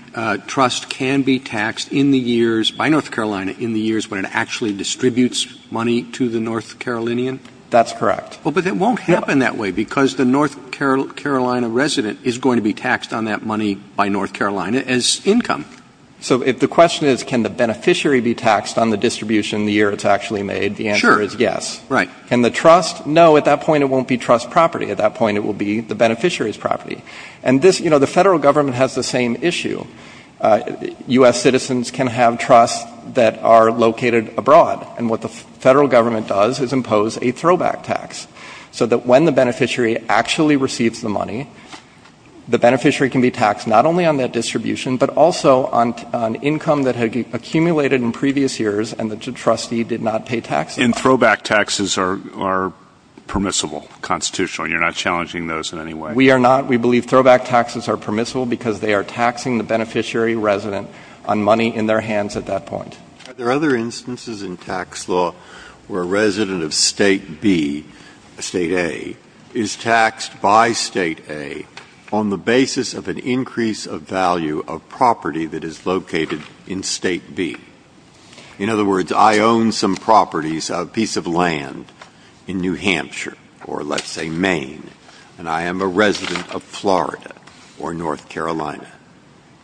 trust can be taxed in the years — by North Carolina in the years when it actually distributes money to the North Carolinian? That's correct. Well, but it won't happen that way because the North Carolina resident is going to be So the question is, can the beneficiary be taxed on the distribution the year it's actually made? Sure. The answer is yes. Right. Can the trust — no, at that point it won't be trust property. At that point it will be the beneficiary's property. And this — you know, the Federal Government has the same issue. U.S. citizens can have trusts that are located abroad, and what the Federal Government does is impose a throwback tax, so that when the beneficiary actually receives the money, the beneficiary can be taxed not only on that distribution, but also on income that had accumulated in previous years and the trustee did not pay taxes on. And throwback taxes are permissible, constitutional, and you're not challenging those in any way? We are not. We believe throwback taxes are permissible because they are taxing the beneficiary resident on money in their hands at that point. Are there other instances in tax law where a resident of State B, State A, is taxed by State A on the basis of an increase of value of property that is located in State B? In other words, I own some properties, a piece of land in New Hampshire, or let's say Maine, and I am a resident of Florida or North Carolina.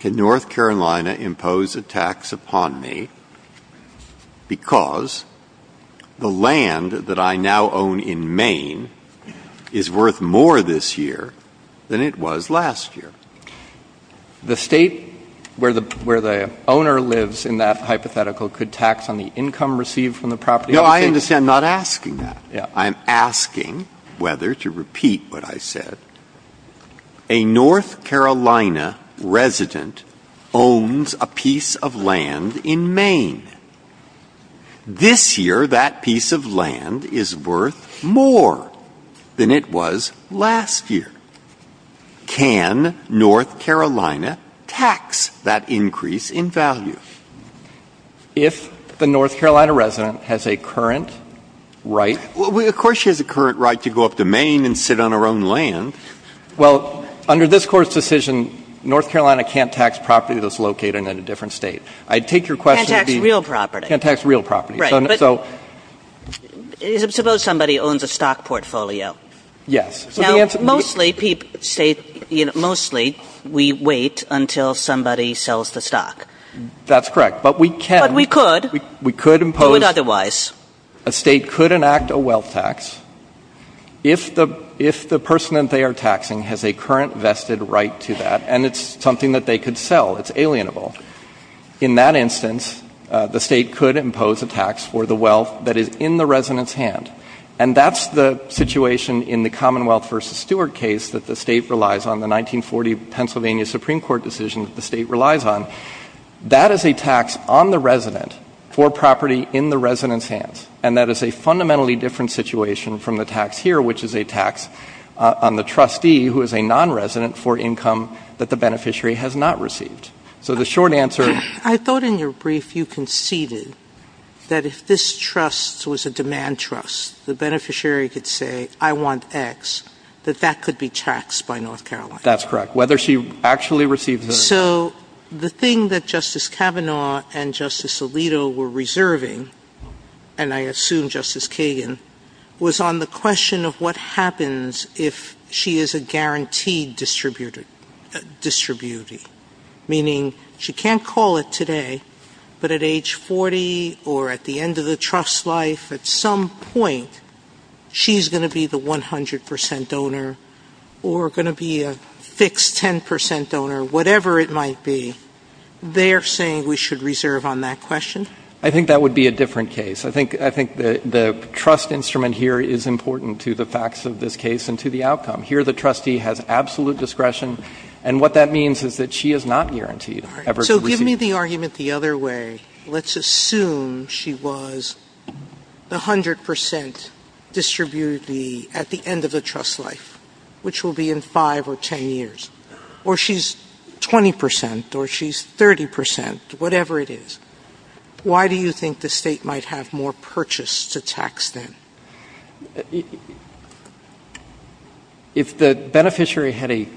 Can North Carolina impose a tax upon me because the land that I now own in Maine is worth more this year than it was last year? The State where the owner lives in that hypothetical could tax on the income received from the property? No, I understand. I'm not asking that. Yeah. I'm asking whether, to repeat what I said, a North Carolina resident owns a piece of land in Maine. This year that piece of land is worth more than it was last year. Can North Carolina tax that increase in value? If the North Carolina resident has a current right? Well, of course she has a current right to go up to Maine and sit on her own land. Well, under this Court's decision, North Carolina can't tax property that's located in a different State. I take your question as being real property. Can't tax real property. Right. Suppose somebody owns a stock portfolio. Yes. Now, mostly, we wait until somebody sells the stock. That's correct. But we can. But we could. We could impose. Do it otherwise. A State could enact a wealth tax if the person that they are taxing has a current vested right to that, and it's something that they could sell. It's alienable. In that instance, the State could impose a tax for the wealth that is in the resident's hand. And that's the situation in the Commonwealth v. Stewart case that the State relies on, the 1940 Pennsylvania Supreme Court decision that the State relies on. That is a tax on the resident for property in the resident's hands, and that is a fundamentally different situation from the tax here, which is a tax on the trustee who is a nonresident for income that the beneficiary has not received. So the short answer — I thought in your brief you conceded that if this trust was a demand trust, the beneficiary could say, I want X, that that could be taxed by North Carolina. That's correct. Whether she actually receives — So the thing that Justice Kavanaugh and Justice Alito were reserving, and I assume Justice Kagan, was on the question of what happens if she is a guaranteed distributor, meaning she can't call it today, but at age 40 or at the end of the trust's life, at some point she's going to be the 100 percent donor or going to be a fixed 10 percent donor, whatever it might be. They're saying we should reserve on that question? I think that would be a different case. I think the trust instrument here is important to the facts of this case and to the outcome. Here the trustee has absolute discretion, and what that means is that she is not guaranteed ever to receive — So give me the argument the other way. Let's assume she was the 100 percent distributor at the end of the trust's life, which will be in 5 or 10 years, or she's 20 percent or she's 30 percent, whatever it is. Why do you think the State might have more purchase to tax them? If the beneficiary had a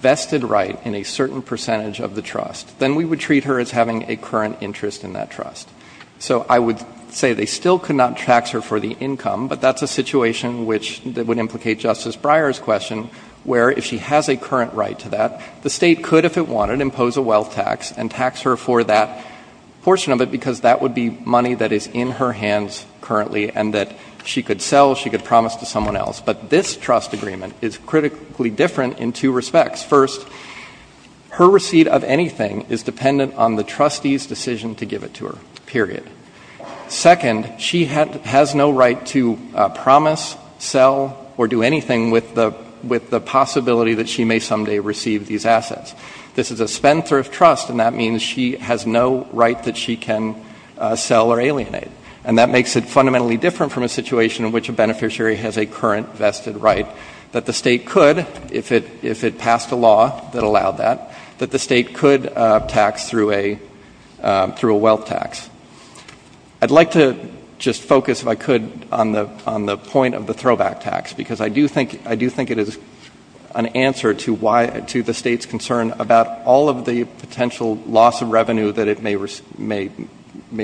vested right in a certain percentage of the trust, then we would treat her as having a current interest in that trust. So I would say they still could not tax her for the income, but that's a situation which would implicate Justice Breyer's question, where if she has a current right to that, the State could, if it wanted, impose a wealth tax and tax her for that portion of it, because that would be money that is in her hands currently and that she could sell, she could promise to someone else. But this trust agreement is critically different in two respects. First, her receipt of anything is dependent on the trustee's decision to give it to her, period. Second, she has no right to promise, sell, or do anything with the possibility that she may someday receive these assets. This is a spendthrift trust, and that means she has no right that she can sell or alienate, and that makes it fundamentally different from a situation in which a beneficiary has a current vested right, that the State could, if it passed a law that allowed that, that the State could tax through a wealth tax. I'd like to just focus, if I could, on the point of the throwback tax, because I do think it is an answer to the State's concern about all of the potential loss of revenue that it may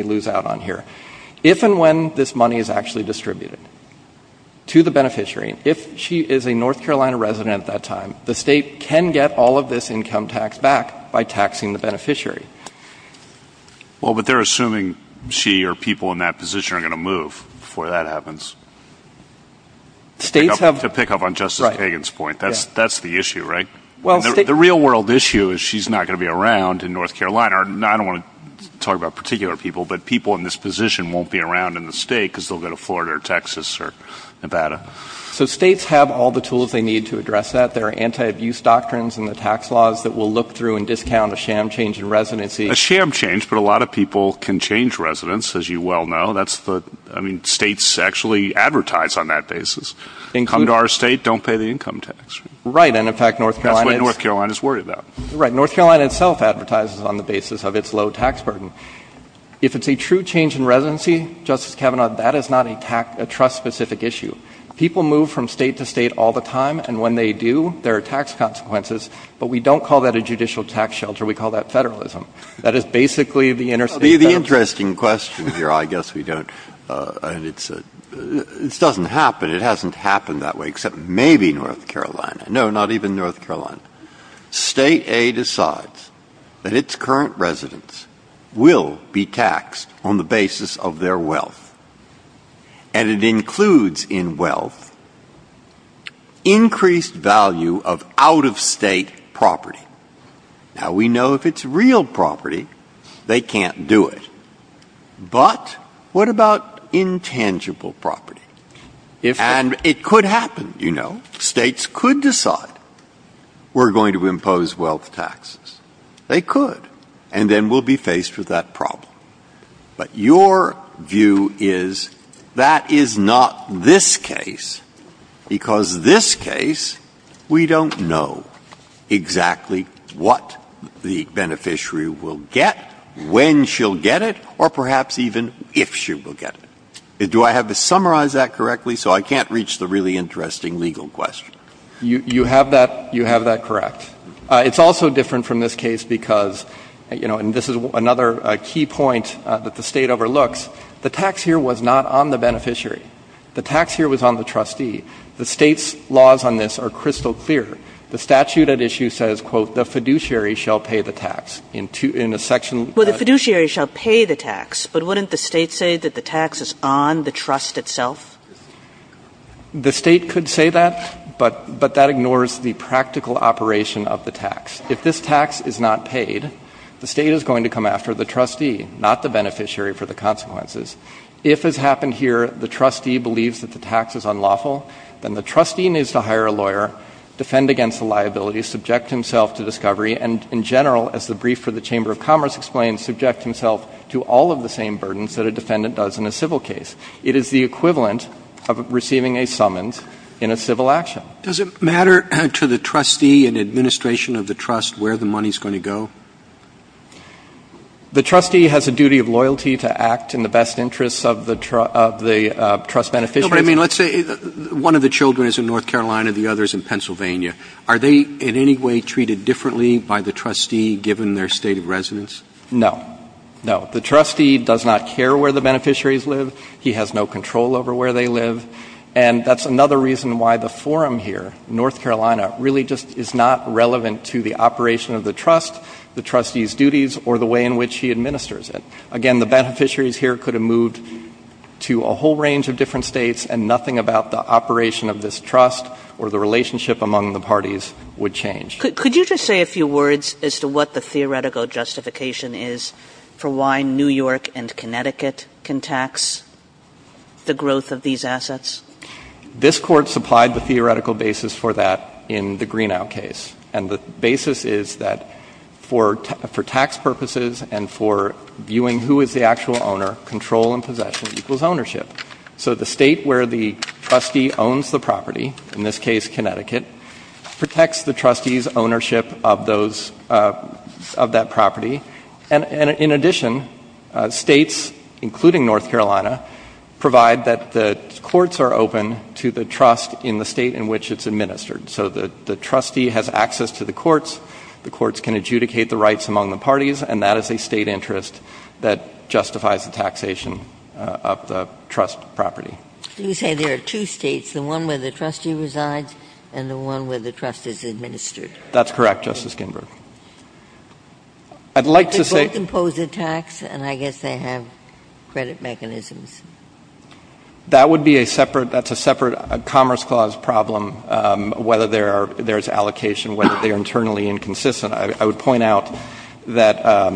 lose out on here. If and when this money is actually distributed to the beneficiary, if she is a North Carolina resident at that time, the State can get all of this income tax back by taxing the beneficiary. Well, but they're assuming she or people in that position are going to move before that happens. To pick up on Justice Kagan's point, that's the issue, right? The real world issue is she's not going to be around in North Carolina. I don't want to talk about particular people, but people in this position won't be around in the State because they'll go to Florida or Texas or Nevada. So States have all the tools they need to address that. There are anti-abuse doctrines in the tax laws that will look through and discount a sham change in residency. A sham change, but a lot of people can change residence, as you well know. I mean, States actually advertise on that basis. Come to our State, don't pay the income tax. Right. And, in fact, North Carolina is — That's what North Carolina is worried about. Right. North Carolina itself advertises on the basis of its low tax burden. If it's a true change in residency, Justice Kavanaugh, that is not a trust-specific issue. People move from State to State all the time, and when they do, there are tax consequences. But we don't call that a judicial tax shelter. We call that federalism. That is basically the interstate — The interesting question here, I guess we don't — and it's a — this doesn't happen. It hasn't happened that way, except maybe North Carolina. No, not even North Carolina. State A decides that its current residents will be taxed on the basis of their wealth. And it includes in wealth increased value of out-of-State property. Now, we know if it's real property, they can't do it. But what about intangible property? And it could happen, you know. States could decide we're going to impose wealth taxes. They could. And then we'll be faced with that problem. But your view is that is not this case, because this case, we don't know exactly what the beneficiary will get, when she'll get it, or perhaps even if she will get it. Do I have to summarize that correctly so I can't reach the really interesting legal question? You have that — you have that correct. It's also different from this case because, you know, and this is another key point that the State overlooks, the tax here was not on the beneficiary. The tax here was on the trustee. The State's laws on this are crystal clear. The statute at issue says, quote, the fiduciary shall pay the tax. In a section — Kagan. Well, the fiduciary shall pay the tax, but wouldn't the State say that the tax is on the trust itself? The State could say that, but that ignores the practical operation of the tax. If this tax is not paid, the State is going to come after the trustee, not the beneficiary for the consequences. If has happened here, the trustee believes that the tax is unlawful, then the trustee needs to hire a lawyer, defend against the liability, subject himself to discovery, and in general, as the brief for the Chamber of Commerce explains, subject himself to all of the same burdens that a defendant does in a civil case. It is the equivalent of receiving a summons in a civil action. Does it matter to the trustee and administration of the trust where the money is going to go? The trustee has a duty of loyalty to act in the best interests of the trust beneficiaries. No, but I mean, let's say one of the children is in North Carolina, the other is in Pennsylvania. Are they in any way treated differently by the trustee, given their state of residence? No. No. The trustee does not care where the beneficiaries live. He has no control over where they live. And that's another reason why the forum here, North Carolina, really just is not relevant to the operation of the trust, the trustee's duties, or the way in which he administers it. Again, the beneficiaries here could have moved to a whole range of different States and nothing about the operation of this trust or the relationship among the parties would change. Kagan. Could you just say a few words as to what the theoretical justification is for why New York and Connecticut can tax the growth of these assets? This Court supplied the theoretical basis for that in the Greenow case. And the basis is that for tax purposes and for viewing who is the actual owner, control and possession equals ownership. So the State where the trustee owns the property, in this case Connecticut, protects the trustee's ownership of that property. And in addition, States, including North Carolina, provide that the courts are open to the trust in the State in which it's administered. So the trustee has access to the courts. And that is a State interest that justifies the taxation of the trust property. You say there are two States, the one where the trustee resides and the one where the trust is administered. That's correct, Justice Ginsburg. I'd like to say. They both impose a tax, and I guess they have credit mechanisms. That would be a separate – that's a separate Commerce Clause problem, whether there are – there's allocation, whether they are internally inconsistent. I would point out that,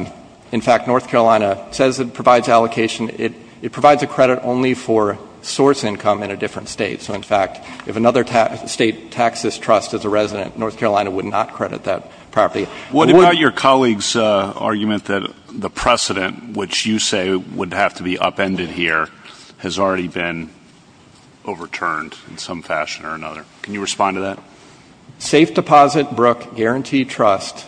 in fact, North Carolina says it provides allocation. It provides a credit only for source income in a different State. So, in fact, if another State taxes trust as a resident, North Carolina would not credit that property. What about your colleague's argument that the precedent, which you say would have to be upended here, has already been overturned in some fashion or another? Can you respond to that? Safe deposit, brook, guaranteed trust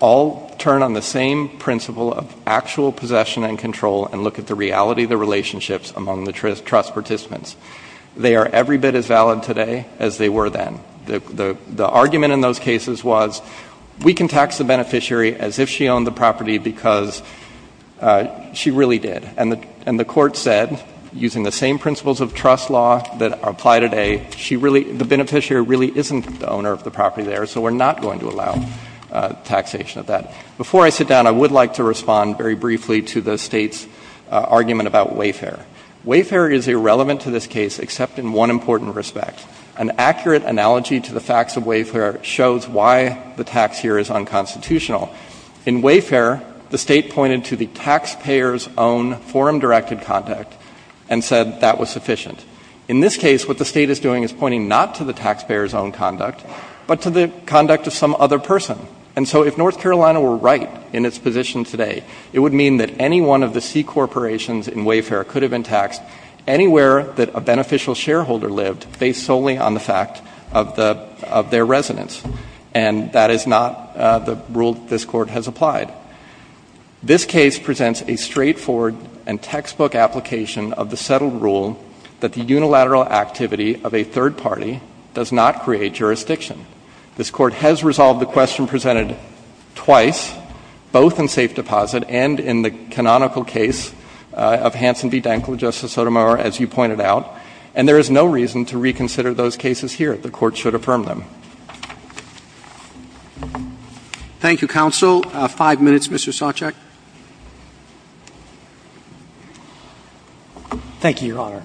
all turn on the same principle of actual possession and control and look at the reality of the relationships among the trust participants. They are every bit as valid today as they were then. The argument in those cases was we can tax the beneficiary as if she owned the property because she really did. And the court said, using the same principles of trust law that apply today, she really – the beneficiary really isn't the owner of the property there, so we're not going to allow taxation of that. Before I sit down, I would like to respond very briefly to the State's argument about wayfair. Wayfair is irrelevant to this case except in one important respect. An accurate analogy to the facts of wayfair shows why the tax here is unconstitutional. In wayfair, the State pointed to the taxpayer's own forum-directed contact and said that was sufficient. In this case, what the State is doing is pointing not to the taxpayer's own conduct, but to the conduct of some other person. And so if North Carolina were right in its position today, it would mean that any one of the C corporations in wayfair could have been taxed anywhere that a beneficial shareholder lived based solely on the fact of their residence. And that is not the rule that this Court has applied. This case presents a straightforward and textbook application of the settled rule that the unilateral activity of a third party does not create jurisdiction. This Court has resolved the question presented twice, both in safe deposit and in the canonical case of Hanson v. Denkel, Justice Sotomayor, as you pointed out. And there is no reason to reconsider those cases here. The Court should affirm them. Roberts. Thank you, counsel. Five minutes, Mr. Soczek. Thank you, Your Honor.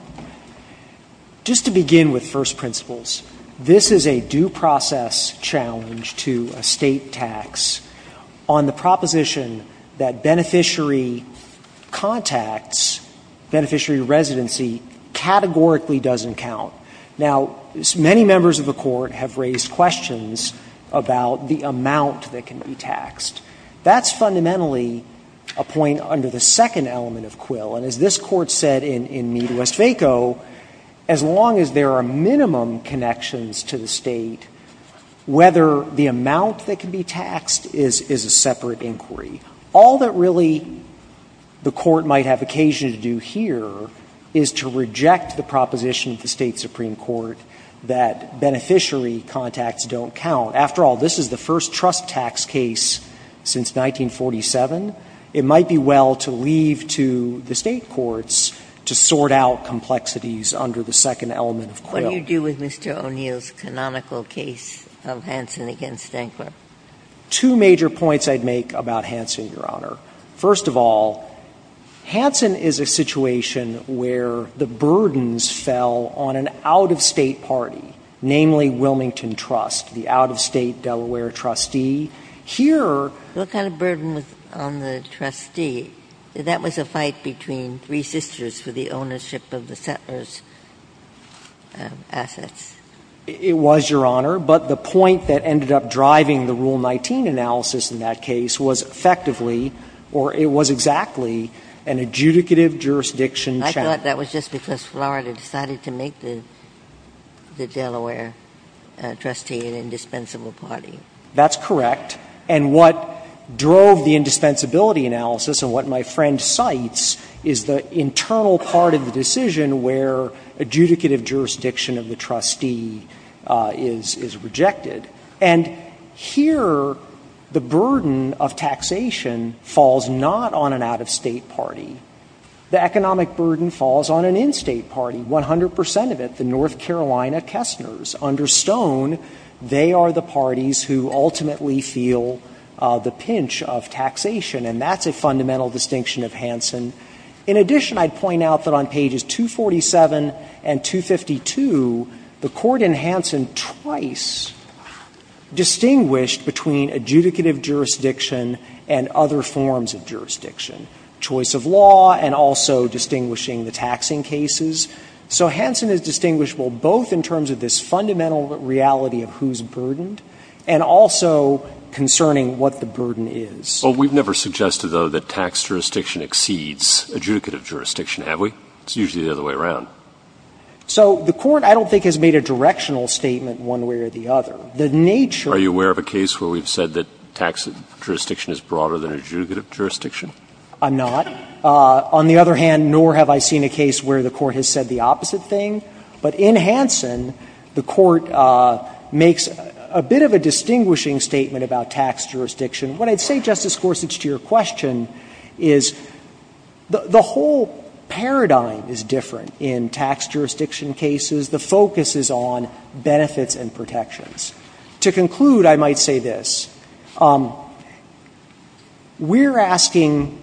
Just to begin with first principles, this is a due process challenge to a State tax on the proposition that beneficiary contacts, beneficiary residency, categorically doesn't count. Now, many members of the Court have raised questions about the amount that can be taxed. That's fundamentally a point under the second element of Quill. And as this Court said in Mead v. Waco, as long as there are minimum connections to the State, whether the amount that can be taxed is a separate inquiry. All that really the Court might have occasion to do here is to reject the proposition of the State supreme court that beneficiary contacts don't count. After all, this is the first trust tax case since 1947. It might be well to leave to the State courts to sort out complexities under the second element of Quill. What do you do with Mr. O'Neill's canonical case of Hanson v. Denkler? Two major points I'd make about Hanson, Your Honor. First of all, Hanson is a situation where the burdens fell on an out-of-State party, namely Wilmington Trust, the out-of-State Delaware trustee. Here the kind of burden was on the trustee. That was a fight between three sisters for the ownership of the settler's assets. It was, Your Honor. But the point that ended up driving the Rule 19 analysis in that case was effectively or it was exactly an adjudicative jurisdiction challenge. I thought that was just because Florida decided to make the Delaware trustee an indispensable party. That's correct. And what drove the indispensability analysis and what my friend cites is the internal part of the decision where adjudicative jurisdiction of the trustee is rejected. And here the burden of taxation falls not on an out-of-State party. The economic burden falls on an in-State party. 100 percent of it, the North Carolina Kessners. Under Stone, they are the parties who ultimately feel the pinch of taxation, and that's a fundamental distinction of Hanson. In addition, I'd point out that on pages 247 and 252, the Court in Hanson twice distinguished between adjudicative jurisdiction and other forms of jurisdiction. Choice of law and also distinguishing the taxing cases. So Hanson is distinguishable both in terms of this fundamental reality of who is burdened and also concerning what the burden is. Well, we've never suggested, though, that tax jurisdiction exceeds adjudicative jurisdiction, have we? It's usually the other way around. So the Court, I don't think, has made a directional statement one way or the other. The nature of the case where we've said that tax jurisdiction is broader than adjudicative jurisdiction. I'm not. On the other hand, nor have I seen a case where the Court has said the opposite thing. But in Hanson, the Court makes a bit of a distinguishing statement about tax jurisdiction. What I'd say, Justice Gorsuch, to your question is the whole paradigm is different in tax jurisdiction cases. The focus is on benefits and protections. To conclude, I might say this. We're asking,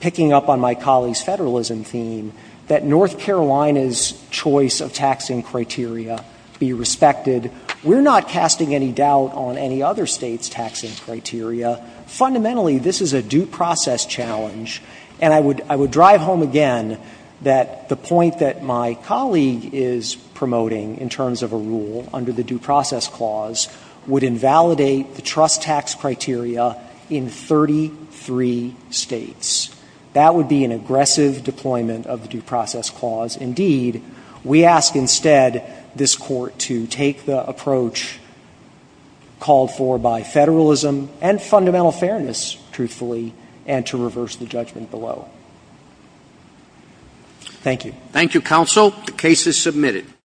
picking up on my colleague's federalism theme, that North Carolina's choice of taxing criteria be respected. We're not casting any doubt on any other State's taxing criteria. Fundamentally, this is a due process challenge. And I would drive home again that the point that my colleague is promoting in terms of a rule under the Due Process Clause would invalidate the trust tax criteria in 33 States. That would be an aggressive deployment of the Due Process Clause. Indeed, we ask instead this Court to take the approach called for by federalism and fundamental fairness, truthfully, and to reverse the judgment below. Thank you. Thank you, counsel. The case is submitted.